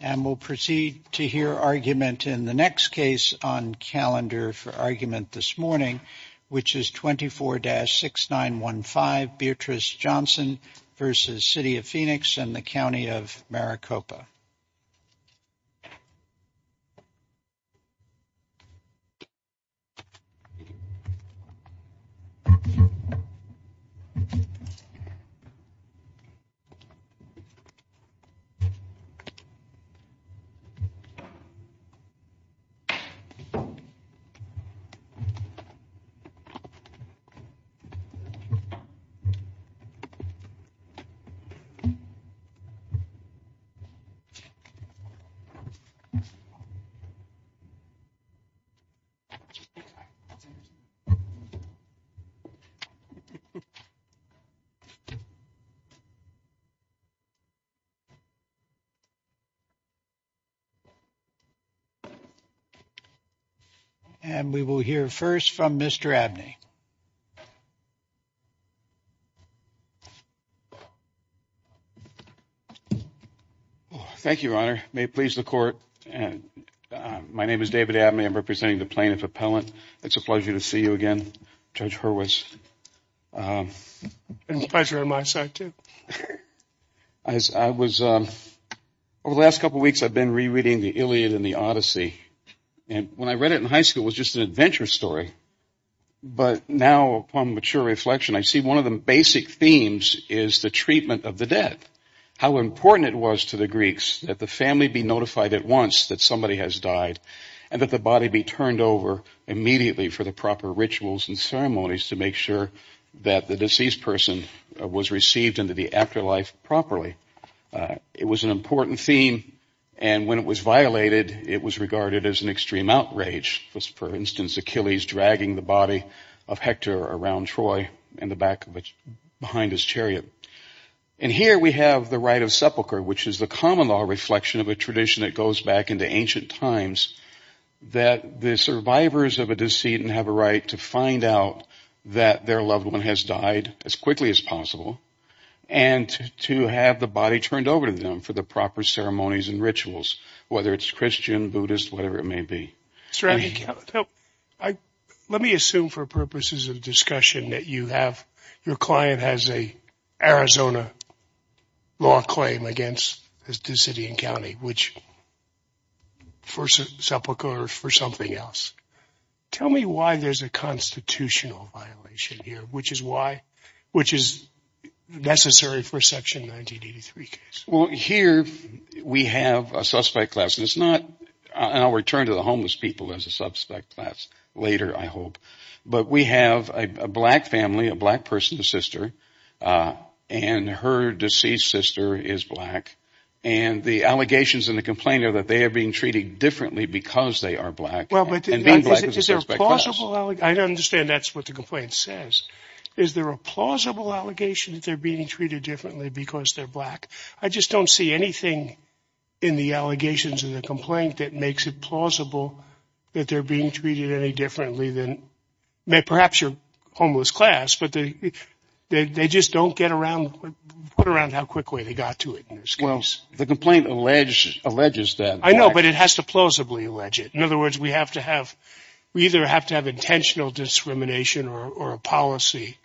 and we'll proceed to hear argument in the next case on calendar for argument this morning which is 24-6915 Beatrice Johnson versus City of Phoenix and the County of Maricopa. And we will hear first from Mr. Abney. Thank you, Your Honor. May it please the court. My name is David Abney. I'm representing the plaintiff appellant. It's a pleasure to see you again, Judge Hurwitz. It's a pleasure on my side, too. I was, over the last couple of weeks I've been rereading the Iliad and the Odyssey. And when I read it in high school it was just an adventure story. But now upon mature reflection I see one of the basic themes is the treatment of the dead. How important it was to the Greeks that the family be notified at once that somebody has died and that the body be turned over immediately for the proper rituals and ceremonies to make sure that the deceased person was received into the afterlife properly. It was an important theme. And when it was violated it was regarded as an extreme outrage, for instance Achilles dragging the body of Hector around Troy in the back behind his chariot. And here we have the rite of sepulchre which is the common law reflection of a tradition that goes back into ancient times that the survivors of a deceit have a right to find out that their loved one has died as quickly as possible and to have the body turned over to them for the proper ceremonies and rituals, whether it's Christian, Buddhist, whatever it may be. Let me assume for purposes of discussion that you have, your client has an Arizona law claim against the city and county, which for sepulchre or for something else. Tell me why there's a constitutional violation here, which is why, which is necessary for a section 1983 case. Well here we have a suspect class and it's not, and I'll return to the homeless people as a suspect class later I hope, but we have a black family, a black person, a sister, and her deceased sister is black and the allegations and the complaint are that they are being treated differently because they are black and being black is a suspect class. I understand that's what the complaint says. Is there a plausible allegation that they're being treated differently because they're black? I just don't see anything in the allegations of the complaint that makes it plausible that they're being treated any differently than, perhaps your homeless class, but they just don't get around, put around how quickly they got to it in this case. The complaint alleges that. I know, but it has to plausibly allege it. In other words, we have to have, we either have to have intentional discrimination or a policy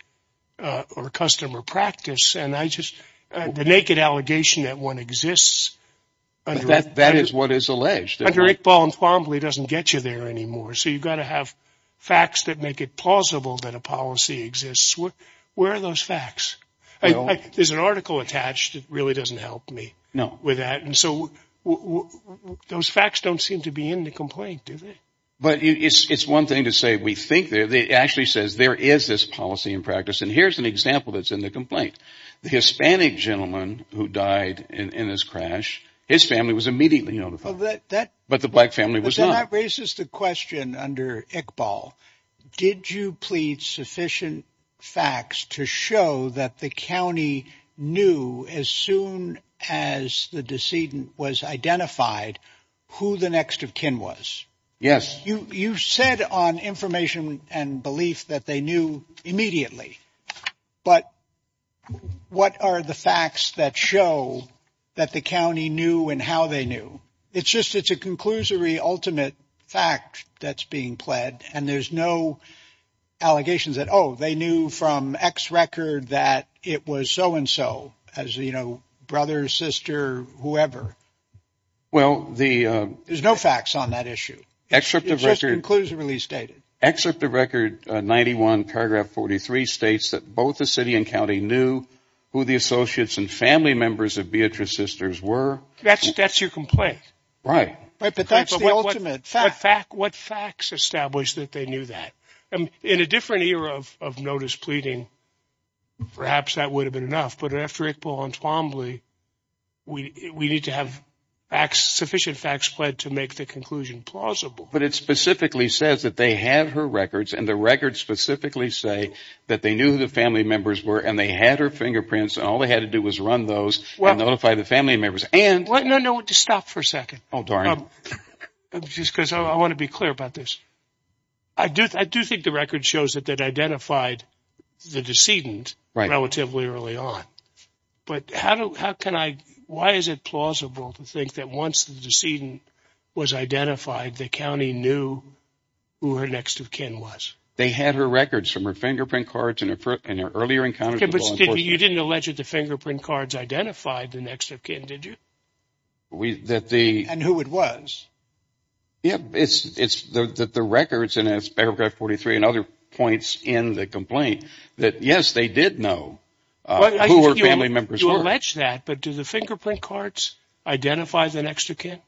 or a custom or practice and I just, the naked allegation that one exists. That is what is alleged. Under Iqbal and Thwambly it doesn't get you there anymore, so you've got to have facts that make it plausible that a policy exists. Where are those facts? There's an article attached, it really doesn't help me with that. And so those facts don't seem to be in the complaint, do they? But it's one thing to say we think they're, it actually says there is this policy and practice and here's an example that's in the complaint. The Hispanic gentleman who died in this crash, his family was immediately notified. But the black family was not. But then that raises the question under Iqbal, did you plead sufficient facts to show that the county knew as soon as the decedent was identified who the next of kin was? Yes. You said on information and belief that they knew immediately, but what are the facts that show that the county knew and how they knew? It's just, it's a conclusory ultimate fact that's being pled and there's no allegations that oh, they knew from X record that it was so and so, as you know, brother, sister, whoever. Well the... There's no facts on that issue, it's just conclusively stated. Excerpt of record 91 paragraph 43 states that both the city and county knew who the associates and family members of Beatrice's sisters were. That's your complaint. Right. Right, but that's the ultimate fact. What facts establish that they knew that? In a different era of notice pleading, perhaps that would have been enough, but after Iqbal and Twombly, we need to have facts, sufficient facts pled to make the conclusion plausible. But it specifically says that they have her records and the records specifically say that they knew who the family members were and they had her fingerprints and all they had to do was run those and notify the family members and... No, no, just stop for a second. Oh darn. Just because I want to be clear about this. I do think the record shows that they'd identified the decedent relatively early on, but how do, how can I, why is it plausible to think that once the decedent was identified, the county knew who her next of kin was? They had her records from her fingerprint cards and her earlier encounters with the law enforcement. Okay, but you didn't allege that the fingerprint cards identified the next of kin, did you? We, that the... And who it was. Yeah, it's, it's, that the records and it's paragraph 43 and other points in the complaint that yes, they did know who her family members were. You allege that, but do the fingerprint cards identify the next of kin?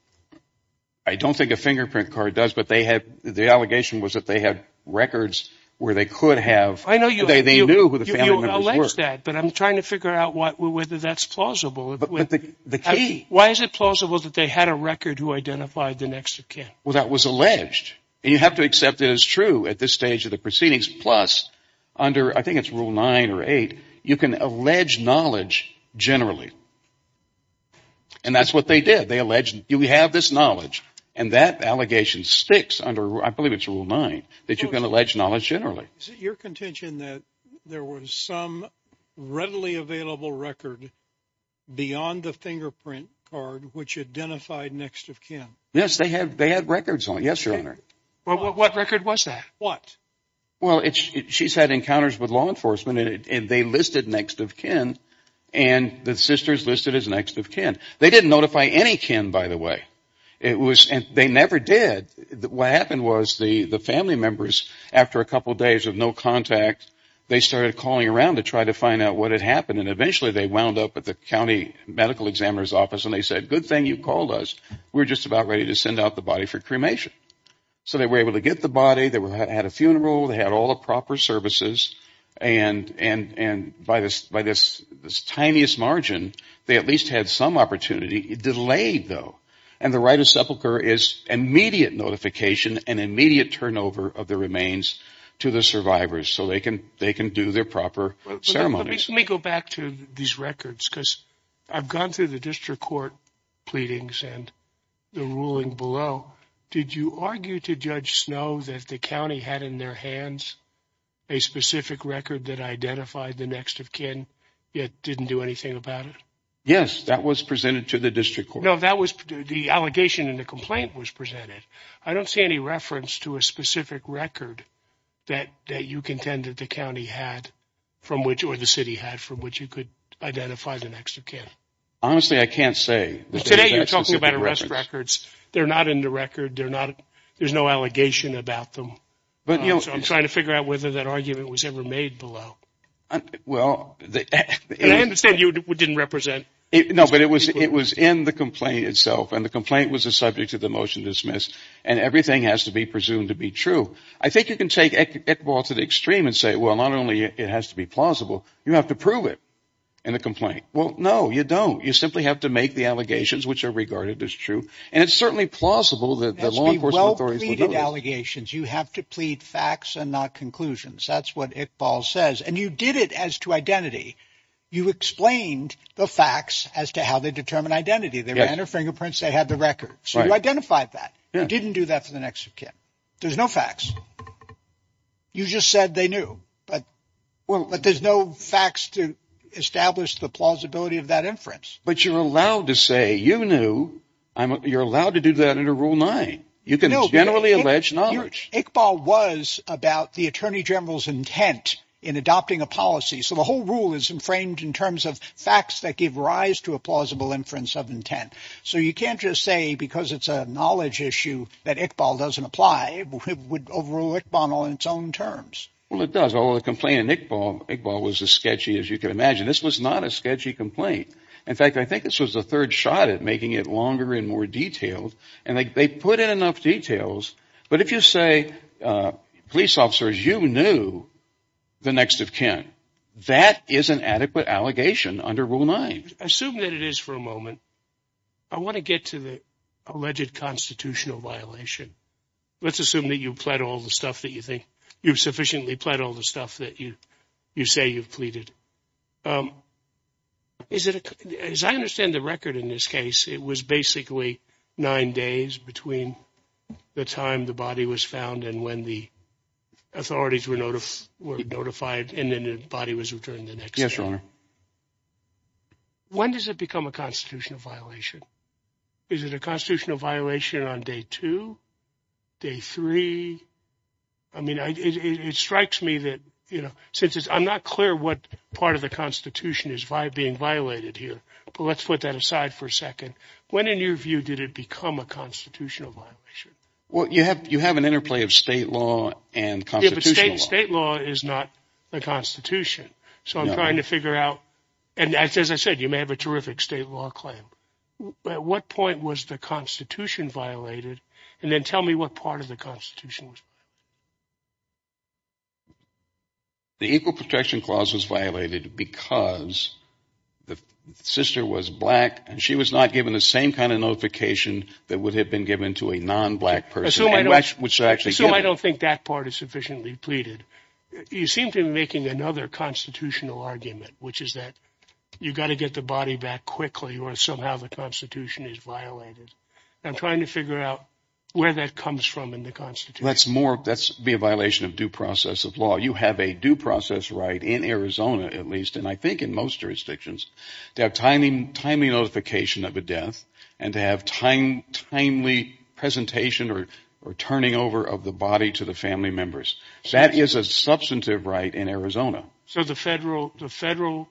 I don't think a fingerprint card does, but they had, the allegation was that they had records where they could have, they knew who the family members were. You allege that, but I'm trying to figure out what, whether that's plausible. But the, the key... Why is it plausible that they had a record who identified the next of kin? Well, that was alleged and you have to accept it as true at this stage of the proceedings. Plus, under, I think it's rule nine or eight, you can allege knowledge generally. And that's what they did. They alleged, you have this knowledge and that allegation sticks under, I believe it's rule nine, that you can allege knowledge generally. Is it your contention that there was some readily available record beyond the fingerprint card which identified next of kin? Yes, they had, they had records on it. Yes, your honor. Well, what record was that? What? Well, it's, she's had encounters with law enforcement and they listed next of kin and the sisters listed as next of kin. They didn't notify any kin, by the way. It was, and they never did. What happened was the family members, after a couple days of no contact, they started calling around to try to find out what had happened and eventually they wound up at the county medical examiner's office and they said, good thing you called us. We're just about ready to send out the body for cremation. So they were able to get the body, they had a funeral, they had all the proper services and by this, by this tiniest margin, they at least had some opportunity, delayed though. And the right of sepulcher is immediate notification and immediate turnover of the remains to the survivors so they can, they can do their proper ceremonies. Let me, let me go back to these records because I've gone through the district court pleadings and the ruling below. Did you argue to Judge Snow that the county had in their hands a specific record that identified the next of kin yet didn't do anything about it? Yes, that was presented to the district court. No, that was the allegation in the complaint was presented. I don't see any reference to a specific record that you contend that the county had from which or the city had from which you could identify the next of kin. Honestly, I can't say. Today you're talking about arrest records. They're not in the record. They're not, there's no allegation about them. But you know, I'm trying to figure out whether that argument was ever made below. Well, I understand you didn't represent it, no, but it was, it was in the complaint itself and the complaint was a subject to the motion dismissed and everything has to be presumed to be true. I think you can take it to the extreme and say, well, not only it has to be plausible, you have to prove it in the complaint. Well, no, you don't. You simply have to make the allegations which are regarded as true. And it's certainly plausible that the law enforcement authorities, well pleaded allegations, you have to plead facts and not conclusions. That's what Iqbal says. And you did it as to identity. You explained the facts as to how they determine identity. They ran her fingerprints. They had the record. So you identified that. You didn't do that for the next of kin. There's no facts. You just said they knew, but well, but there's no facts to establish the plausibility of that inference. But you're allowed to say, you knew I'm, you're allowed to do that under rule nine. You can generally allege knowledge. Iqbal was about the attorney general's intent in adopting a policy. So the whole rule is framed in terms of facts that give rise to a plausible inference of intent. So you can't just say because it's a knowledge issue that Iqbal doesn't apply. It would overrule Iqbal on its own terms. Well, it does. Although the complaint in Iqbal was as sketchy as you can imagine. This was not a sketchy complaint. In fact, I think this was the third shot at making it longer and more detailed. And they put in enough details. But if you say, police officers, you knew the next of kin, that is an adequate allegation under rule nine. Assume that it is for a moment. I want to get to the alleged constitutional violation. Let's assume that you've pled all the stuff that you think you've sufficiently pled all the stuff that you you say you've pleaded. As I understand the record in this case, it was basically nine days between the time the body was found and when the authorities were notified and then the body was returned the next day. When does it become a constitutional violation? Is it a constitutional violation on day two, day three? I mean, it strikes me that, you know, since I'm not clear what part of the Constitution is being violated here, but let's put that aside for a second. When, in your view, did it become a constitutional violation? Well, you have you have an interplay of state law and state law is not the Constitution. So I'm trying to figure out. And as I said, you may have a terrific state law claim. But what point was the Constitution violated and then tell me what part of the Constitution was. The Equal Protection Clause was violated because the sister was black and she was not given the same kind of notification that would have been given to a non black person, which actually, so I don't think that part is sufficiently pleaded. You seem to be making another constitutional argument, which is that you've got to get the body back quickly or somehow the Constitution is violated. I'm trying to figure out where that comes from in the Constitution. That's more that's be a violation of due process of law. You have a due process right in Arizona, at least, and I think in most jurisdictions, to have timely notification of a death and to have time timely presentation or or turning over of the body to the family members. That is a substantive right in Arizona. So the federal the federal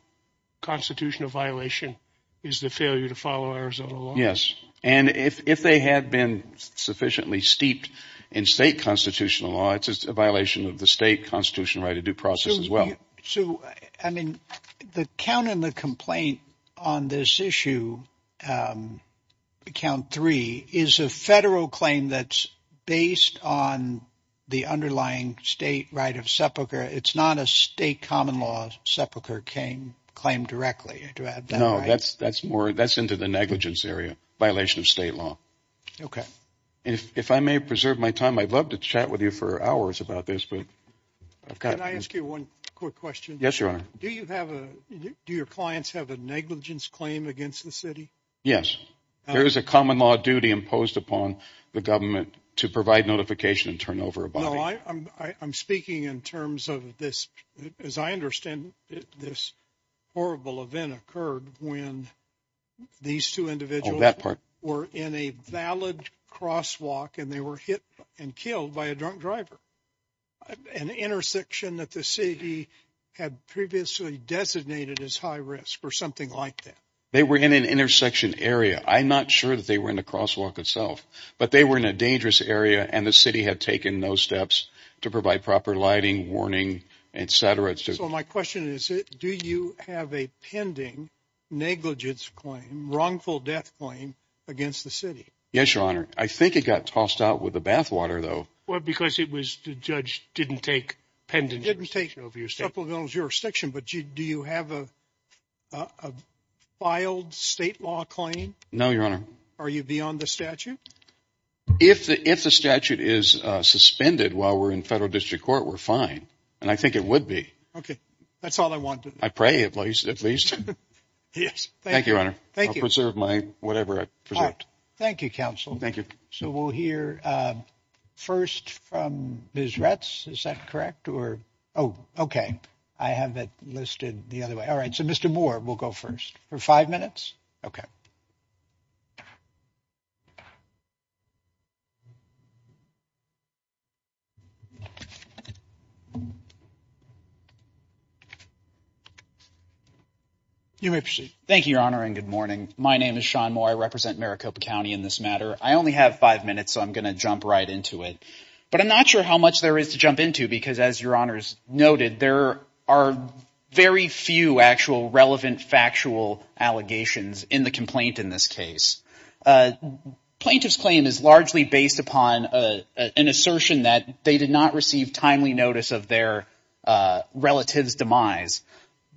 constitutional violation is the failure to follow Arizona law. Yes. And if they had been sufficiently steeped in state constitutional law, it's just a violation of the state constitution, right? A due process as well. So, I mean, the count in the complaint on this issue, count three is a federal claim that's based on the underlying state right of sepulcher. It's not a state common law sepulcher claim directly to add. No, that's that's more that's into the negligence area violation of state law. OK, if I may preserve my time, I'd love to chat with you for hours about this. But can I ask you one quick question? Yes, your honor. Do you have a do your clients have a negligence claim against the city? Yes. There is a common law duty imposed upon the government to provide notification and over a bar. I'm speaking in terms of this, as I understand this horrible event occurred when these two individuals that part were in a valid crosswalk and they were hit and killed by a drunk driver, an intersection that the city had previously designated as high risk or something like that. They were in an intersection area. I'm not sure that they were in the crosswalk itself, but they were in a dangerous area and the city had taken those steps to provide proper lighting, warning, et cetera. It's just my question is, do you have a pending negligence claim, wrongful death claim against the city? Yes, your honor. I think it got tossed out with the bathwater, though, because it was the judge didn't take pending didn't take over your supplemental jurisdiction. But do you have a filed state law claim? No, your honor. Are you beyond the statute? If the if the statute is suspended while we're in federal district court, we're fine. And I think it would be OK. That's all I want. I pray at least at least. Yes. Thank you, your honor. Thank you. Preserve my whatever I present. Thank you, counsel. Thank you. So we'll hear first from Ms. Retz. Is that correct or. Oh, OK. I have it listed the other way. All right. So, Mr. Moore, we'll go first for five minutes. OK. You may proceed. Thank you, your honor, and good morning. My name is Sean Moore. I represent Maricopa County in this matter. I only have five minutes, so I'm going to jump right into it. But I'm not sure how much there is to jump into, because as your honors noted, there are very few actual relevant factual allegations in the complaint in this case. Plaintiff's claim is largely based upon an assertion that they did not receive timely notice of their relative's demise.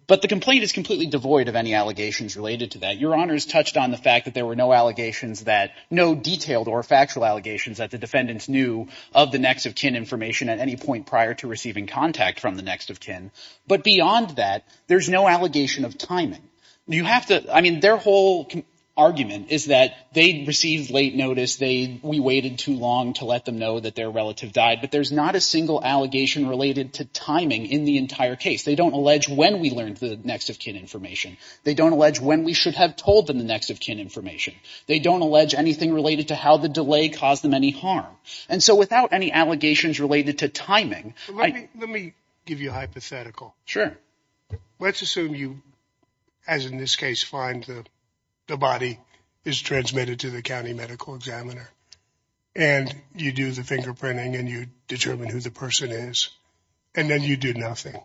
But the complaint is completely devoid of any allegations related to that. Your honors touched on the fact that there were no allegations that no detailed or factual allegations that the defendants knew of the next of kin information at any point prior to receiving contact from the next of kin. But beyond that, there's no allegation of timing. You have to I mean, their whole argument is that they received late notice. They we waited too long to let them know that their relative died. But there's not a single allegation related to timing in the entire case. They don't allege when we learned the next of kin information. They don't allege when we should have told them the next of kin information. They don't allege anything related to how the delay caused them any harm. And so without any allegations related to timing, let me give you a hypothetical. Sure. Let's assume you, as in this case, find the the body is transmitted to the county medical examiner and you do the fingerprinting and you determine who the person is and then you do nothing.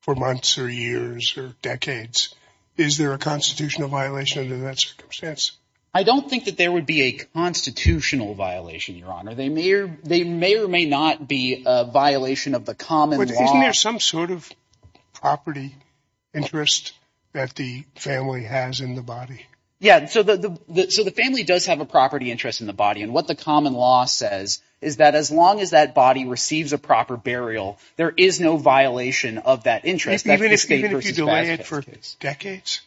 For months or years or decades, is there a constitutional violation under that circumstance? I don't think that there would be a constitutional violation, Your Honor. They may or they may or may not be a violation of the common law. Isn't there some sort of property interest that the family has in the body? Yeah. So the so the family does have a property interest in the body. And what the common law says is that as long as that body receives a proper burial, there is no violation of that interest. Even if you delay it for decades.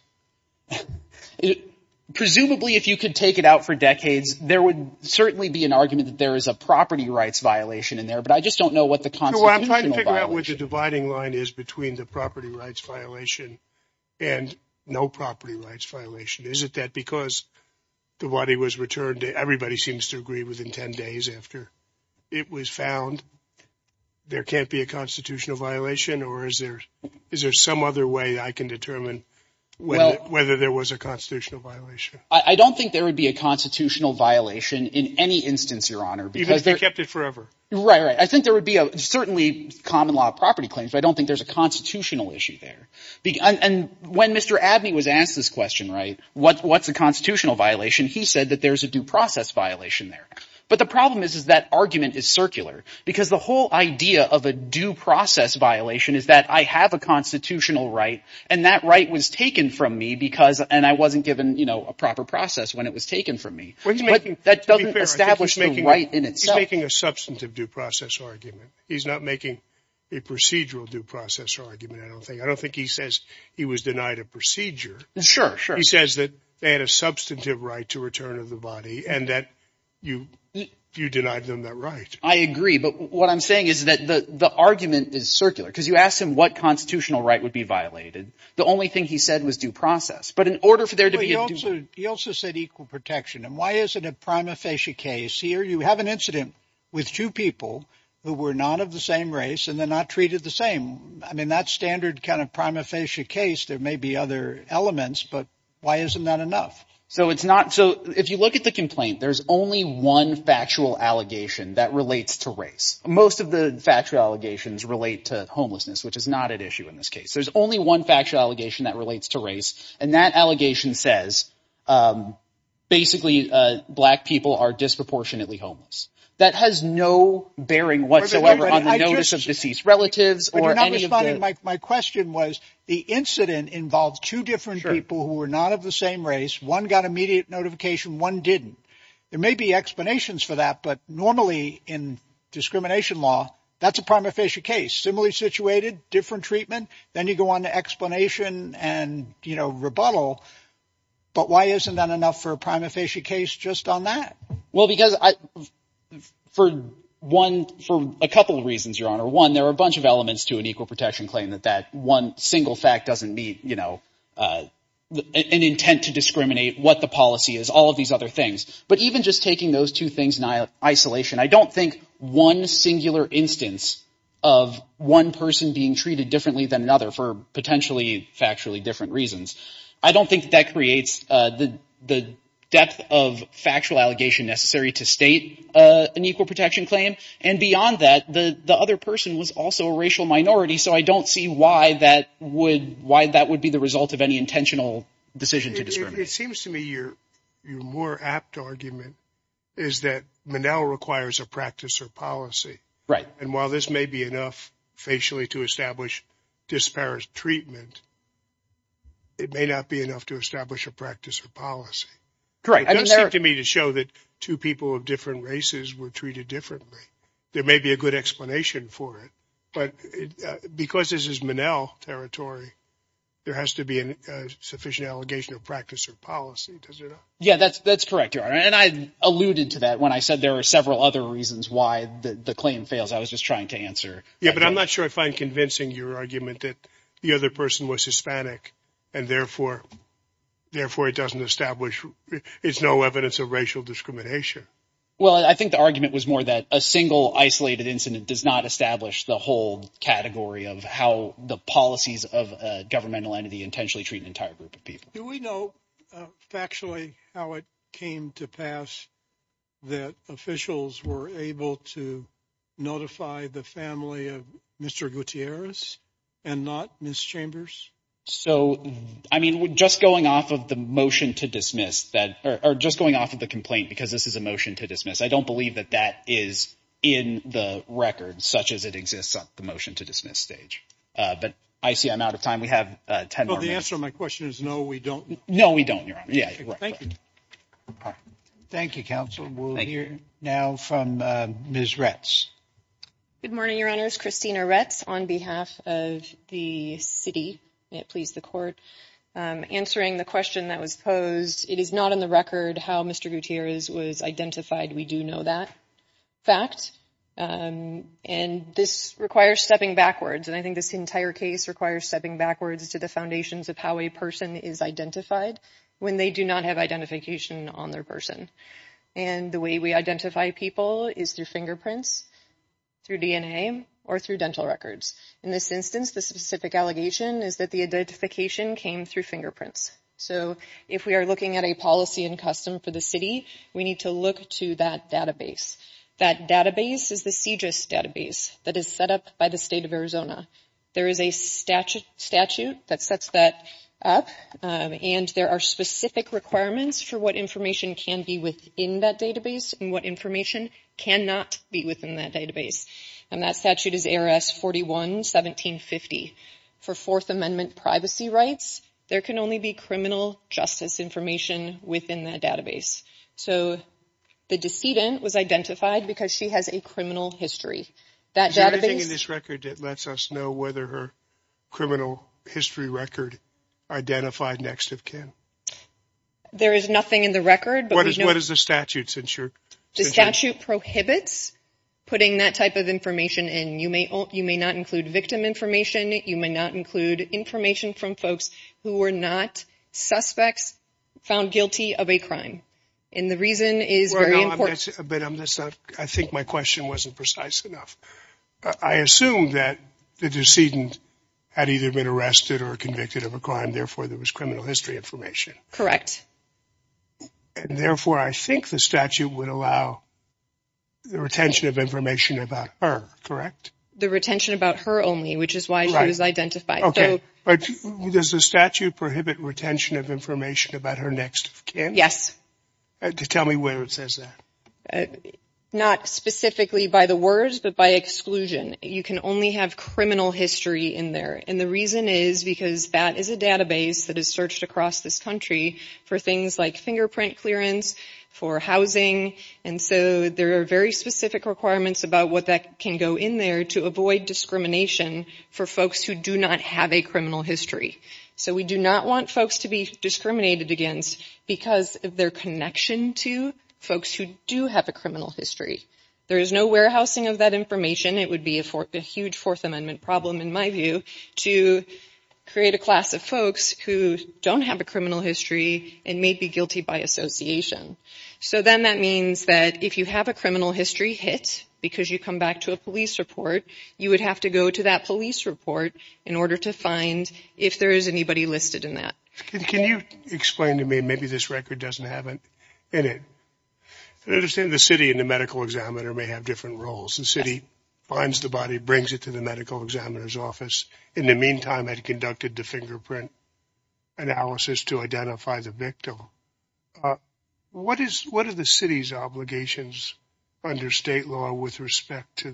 Presumably, if you could take it out for decades, there would certainly be an argument that there is a property rights violation in there. But I just don't know what the consulate I'm trying to figure out what the dividing line is between the property rights violation and no property rights violation. Is it that because the body was returned, everybody seems to agree within 10 days after it was found there can't be a constitutional violation? Or is there is there some other way I can determine whether there was a constitutional violation? I don't think there would be a constitutional violation in any instance, Your Honor, because they kept it forever. Right. I think there would be a certainly common law property claims. I don't think there's a constitutional issue there. And when Mr. Abney was asked this question, right, what what's a constitutional violation? He said that there is a due process violation there. But the problem is, is that argument is circular because the whole idea of a due process violation is that I have a constitutional right and that right was taken from me because and I wasn't given, you know, a proper process when it was taken from me. But that doesn't establish making right in itself, making a substantive due process argument. He's not making a procedural due process argument. I don't think I don't think he says he was denied a procedure. Sure. Sure. He says that they had a substantive right to return of the body and that you you denied them that right. I agree. But what I'm saying is that the argument is circular because you asked him what constitutional right would be violated. The only thing he said was due process. But in order for there to be also he also said equal protection. And why is it a prima facie case here? You have an incident with two people who were not of the same race and they're not treated the same. I mean, that's standard kind of prima facie case. There may be other elements, but why isn't that enough? So it's not. So if you look at the complaint, there's only one factual allegation that relates to race. Most of the factual allegations relate to homelessness, which is not at issue in this case. There's only one factual allegation that relates to race. And that allegation says basically black people are disproportionately homeless. That has no bearing whatsoever on the notice of deceased relatives or any of my question was the incident involved two different people who were not of the same race. One got immediate notification. One didn't. There may be explanations for that. But normally in discrimination law, that's a prima facie case. Similarly situated, different treatment. Then you go on to explanation and, you know, rebuttal. But why isn't that enough for a prima facie case just on that? Well, because I for one for a couple of reasons, your honor, one, there are a bunch of elements to an equal protection claim that that one single fact doesn't meet, you know, an intent to discriminate what the policy is, all of these other things. But even just taking those two things in isolation, I don't think one singular instance of one person being treated differently than another for potentially factually different reasons. I don't think that creates the the depth of factual allegation necessary to state an equal protection claim. And beyond that, the other person was also a racial minority. So I don't see why that would why that would be the result of any intentional decision to discriminate. It seems to me you're you're more apt argument is that Menel requires a practice or policy. Right. And while this may be enough facially to establish disparage treatment. It may not be enough to establish a practice or policy. Correct. I mean, it does seem to me to show that two people of different races were treated differently. There may be a good explanation for it, but because this is Menel territory, there has to be a sufficient allegation of practice or policy, does it? Yeah, that's that's correct. And I alluded to that when I said there are several other reasons why the claim fails. I was just trying to answer. Yeah, but I'm not sure I find convincing your argument that the other person was Hispanic and therefore therefore it doesn't establish it's no evidence of racial discrimination. Well, I think the argument was more that a single isolated incident does not establish the whole category of how the policies of governmental entity intentionally treat an entire group of people. Do we know factually how it came to pass that officials were able to notify the family of Mr. Gutierrez and not Ms. Chambers? So I mean, just going off of the motion to dismiss that or just going off of the complaint because this is a motion to dismiss, I don't believe that that is in the record such as it exists at the motion to dismiss stage. But I see I'm out of time. We have ten minutes. So my question is, no, we don't know. We don't. Yeah. Thank you. Thank you, counsel. We'll hear now from Ms. Retz. Good morning, your honors. Christina Retz on behalf of the city, please, the court answering the question that was posed. It is not on the record how Mr. Gutierrez was identified. We do know that fact and this requires stepping backwards. And I think this entire case requires stepping backwards to the foundations of how a person is identified when they do not have identification on their person. And the way we identify people is through fingerprints, through DNA or through dental records. In this instance, the specific allegation is that the identification came through fingerprints. So if we are looking at a policy and custom for the city, we need to look to that database. That database is the CJIS database that is set up by the state of Arizona. There is a statute that sets that up and there are specific requirements for what information can be within that database and what information cannot be within that database. And that statute is ARS 41-1750. For Fourth Amendment privacy rights, there can only be criminal justice information within that database. So the decedent was identified because she has a criminal history. That database... Is there anything in this record that lets us know whether her criminal history record identified next of kin? There is nothing in the record. What is the statute? The statute prohibits putting that type of information in. You may not include victim information. You may not include information from folks who were not suspects found guilty of a crime. And the reason is very important. I think my question wasn't precise enough. I assume that the decedent had either been arrested or convicted of a crime, therefore there was criminal history information. Correct. And therefore, I think the statute would allow the retention of information about her, correct? The retention about her only, which is why she was identified. But does the statute prohibit retention of information about her next of kin? Yes. Tell me where it says that. Not specifically by the words, but by exclusion. You can only have criminal history in there. And the reason is because that is a database that is searched across this country for things like fingerprint clearance, for housing, and so there are very specific requirements about what can go in there to avoid discrimination for folks who do not have a criminal history. So we do not want folks to be discriminated against because of their connection to folks who do have a criminal history. There is no warehousing of that information. It would be a huge Fourth Amendment problem, in my view, to create a class of folks who don't have a criminal history and may be guilty by association. So then that means that if you have a criminal history hit, because you come back to a police report, you would have to go to that police report in order to find if there is anybody listed in that. Can you explain to me, maybe this record doesn't have it in it. I understand the city and the medical examiner may have different roles. The city finds the body, brings it to the medical examiner's office, in the meantime had conducted the fingerprint analysis to identify the victim. What are the city's obligations under state law with respect to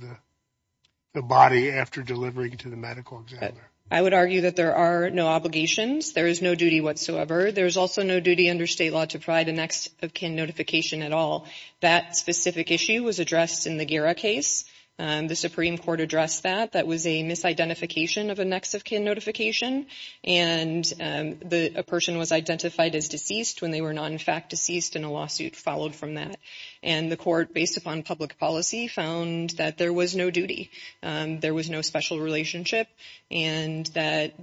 the body after delivering to the medical examiner? I would argue that there are no obligations. There is no duty whatsoever. There's also no duty under state law to provide a next-of-kin notification at all. That specific issue was addressed in the Guerra case. The Supreme Court addressed that. That was a misidentification of a next-of-kin notification and a person was identified as deceased when they were not in fact deceased and a lawsuit followed from that. And the court, based upon public policy, found that there was no duty. There was no special relationship and that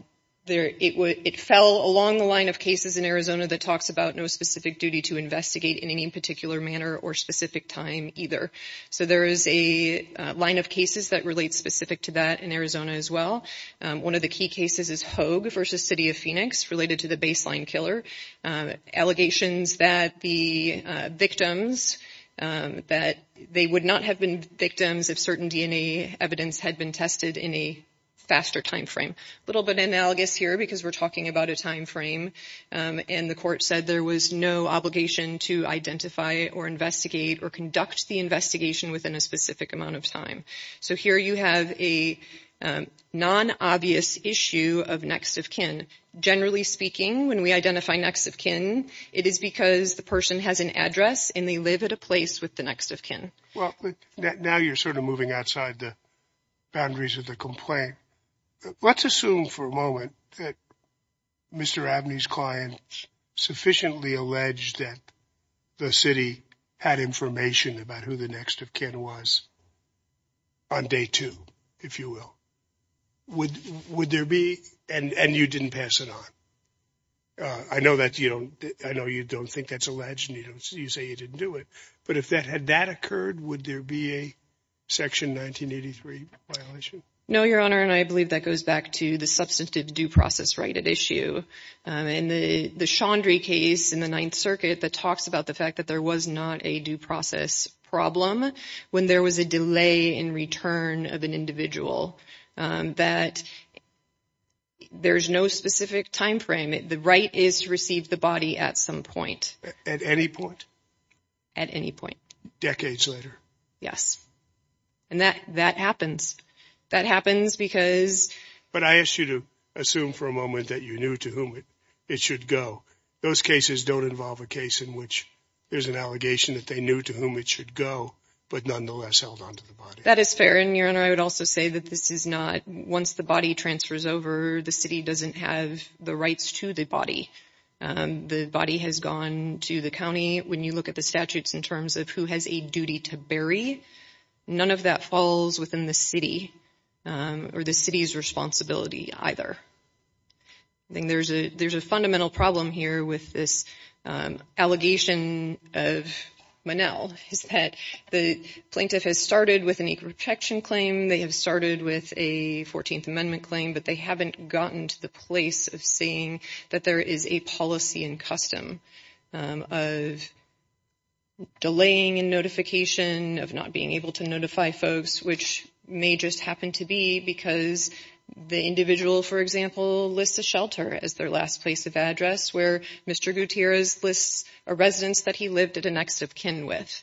it fell along the line of cases in Arizona that talks about no specific duty to investigate in any particular manner or specific time either. So there is a line of cases that relate specific to that in Arizona as well. One of the key cases is Hogue v. City of Phoenix related to the baseline killer. Allegations that the victims, that they would not have been victims if certain DNA evidence had been tested in a faster time frame. A little bit analogous here because we're talking about a time frame and the court said there was no obligation to identify or investigate or conduct the investigation within a specific amount of time. So here you have a non-obvious issue of next-of-kin. Generally speaking, when we identify next-of-kin, it is because the person has an address and they live at a place with the next-of-kin. Well, now you're sort of moving outside the boundaries of the complaint. Let's assume for a moment that Mr. Abney's client sufficiently alleged that the city had information about who the next-of-kin was on day two, if you will. Would there be, and you didn't pass it on. I know you don't think that's alleged and you say you didn't do it, but if that had that occurred, would there be a Section 1983 violation? No, Your Honor, and I believe that goes back to the substantive due process right at issue. In the Chaudhry case in the Ninth Circuit that talks about the fact that there was not a due process problem when there was a delay in return of an individual, that there's no specific time frame. The right is to receive the body at some point. At any point? At any point. Decades later? Yes. And that happens. That happens because... But I asked you to assume for a moment that you knew to whom it should go. Those cases don't involve a case in which there's an allegation that they knew to whom it should go, but nonetheless held on to the body. That is fair, and Your Honor, I would also say that this is not... Once the body transfers over, the city doesn't have the rights to the body. The body has gone to the county. When you look at the statutes in terms of who has a duty to bury, none of that falls within the city or the city's responsibility either. There's a fundamental problem here with this allegation of Monell, is that the plaintiff has started with an equal protection claim. They have started with a 14th Amendment claim, but they haven't gotten to the place of seeing that there is a policy and custom of delaying in notification, of not being able to notify folks, which may just happen to be because the individual, for example, lists a shelter as their last place of address, where Mr. Gutierrez lists a residence that he lived at a next of kin with.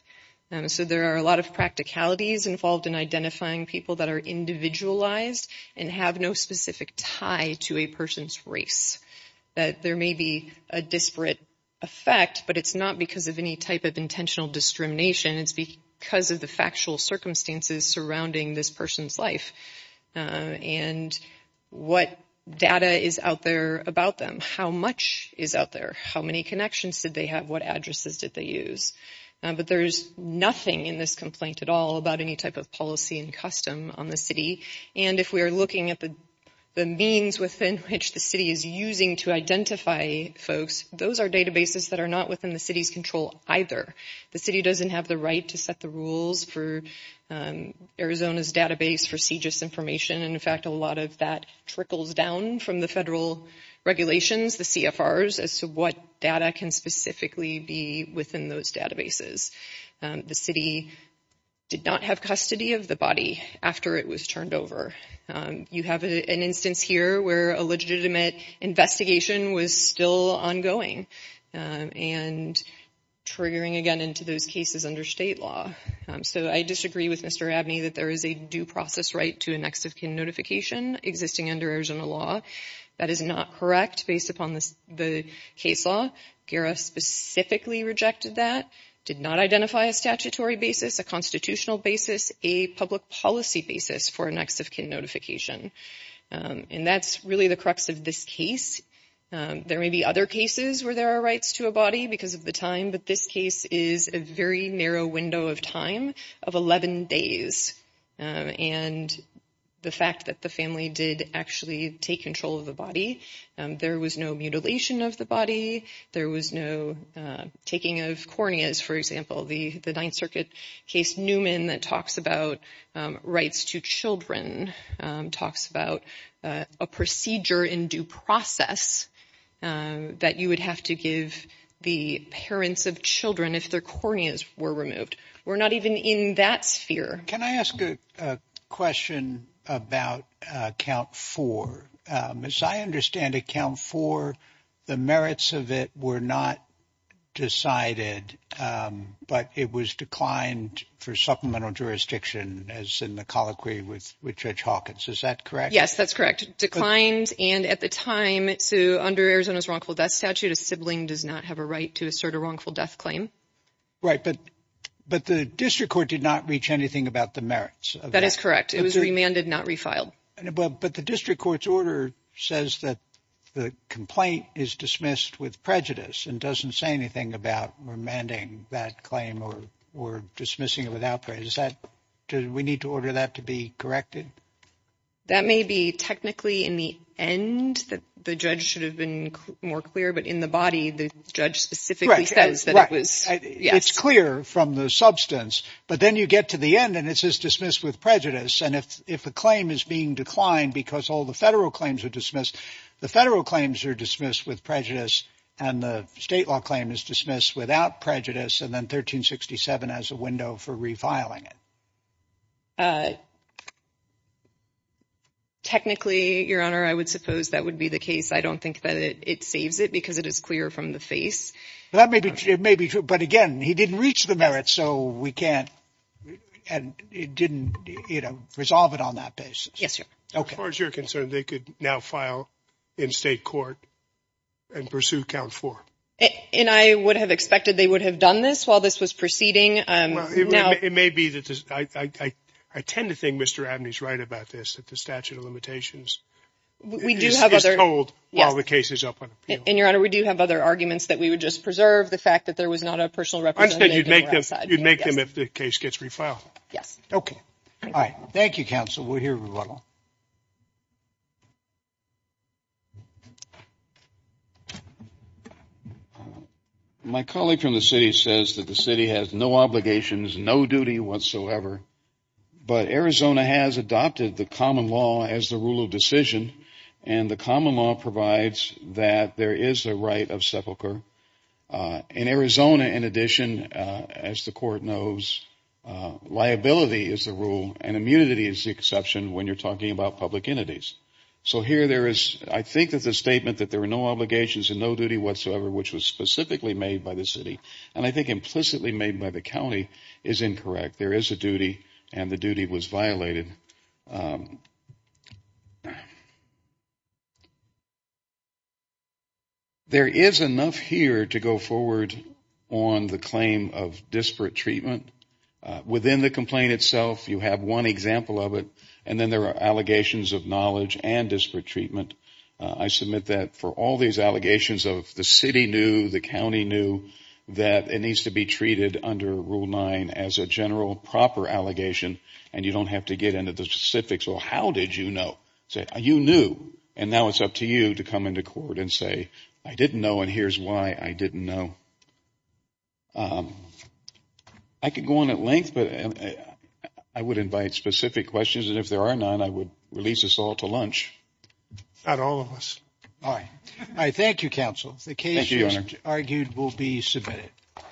So there are a lot of practicalities involved in identifying people that are individualized and have no specific tie to a person's race. There may be a disparate effect, but it's not because of any type of intentional discrimination. It's because of the factual circumstances surrounding this person's life and what data is out there about them. How much is out there? How many connections did they have? What addresses did they use? But there's nothing in this complaint at all about any type of policy and custom on the city. And if we are looking at the means within which the city is using to identify folks, those are databases that are not within the city's control either. The city doesn't have the right to set the rules for Arizona's database for CEGIS information. In fact, a lot of that trickles down from the federal regulations, the CFRs, as to what data can specifically be within those databases. The city did not have custody of the body after it was turned over. You have an instance here where a legitimate investigation was still ongoing and triggering again into those cases under state law. So I disagree with Mr. Abney that there is a due process right to an ex-of-kin notification existing under Arizona law. That is not correct based upon the case law. GERA specifically rejected that, did not identify a statutory basis, a constitutional basis, a public policy basis for an ex-of-kin notification. And that's really the crux of this case. There may be other cases where there are rights to a body because of the time, but this case is a very narrow window of time of 11 days. And the fact that the family did actually take control of the body, there was no mutilation of the body, there was no taking of corneas, for example, the Ninth Circuit case Newman that talks about rights to children, talks about a procedure in due process that you would have to give the parents of children if their corneas were removed. We're not even in that sphere. Can I ask a question about Count 4? As I understand it, Count 4, the merits of it were not decided, but it was declined for supplemental jurisdiction as in the colloquy with Judge Hawkins. Is that correct? Yes, that's correct. Declined, and at the time, under Arizona's wrongful death statute, a sibling does not have a right to assert a wrongful death claim. Right, but the district court did not reach anything about the merits. That is correct. It was remanded, not refiled. But the district court's order says that the complaint is dismissed with prejudice and doesn't say anything about remanding that claim or dismissing it without prejudice. We need to order that to be corrected? That may be technically in the end that the judge should have been more clear, but in the body, the judge specifically says that it was, yes. It's clear from the substance, but then you get to the end and it says dismissed with prejudice. And if a claim is being declined because all the federal claims are dismissed, the federal claims are dismissed with prejudice and the state law claim is dismissed without prejudice and then 1367 has a window for refiling it. Technically, Your Honor, I would suppose that would be the case. I don't think that it saves it because it is clear from the face. That may be true. But again, he didn't reach the merits, so we can't and it didn't, you know, resolve it on that basis. Yes, Your Honor. As far as you're concerned, they could now file in state court and pursue count four. And I would have expected they would have done this while this was proceeding. It may be that I tend to think Mr. Abney is right about this, that the statute of limitations We do have other. Is told while the case is up on appeal. And Your Honor, we do have other arguments that we would just preserve the fact that there was not a personal representative. I just said you'd make them, you'd make them if the case gets refiled. Yes. Okay. All right. Thank you, counsel. We'll hear rebuttal. My colleague from the city says that the city has no obligations, no duty whatsoever, but Arizona has adopted the common law as the rule of decision. And the common law provides that there is a right of sepulcher. In Arizona, in addition, as the court knows, liability is the rule and immunity is the exception when you're talking about public entities. So here there is, I think there's a statement that there are no obligations and no duty whatsoever which was specifically made by the city. And I think implicitly made by the county is incorrect. There is a duty and the duty was violated. There is enough here to go forward on the claim of disparate treatment. Within the complaint itself, you have one example of it and then there are allegations of knowledge and disparate treatment. I submit that for all these allegations of the city knew, the county knew that it needs to be treated under Rule 9 as a general, proper allegation and you don't have to get into the specifics of how did you know. You knew and now it's up to you to come into court and say, I didn't know and here's why I didn't know. I could go on at length, but I would invite specific questions and if there are none, I would release us all to lunch. Not all of us. All right. All right. Thank you, counsel. Thank you, Your Honor. The case you argued will be submitted. Thank you.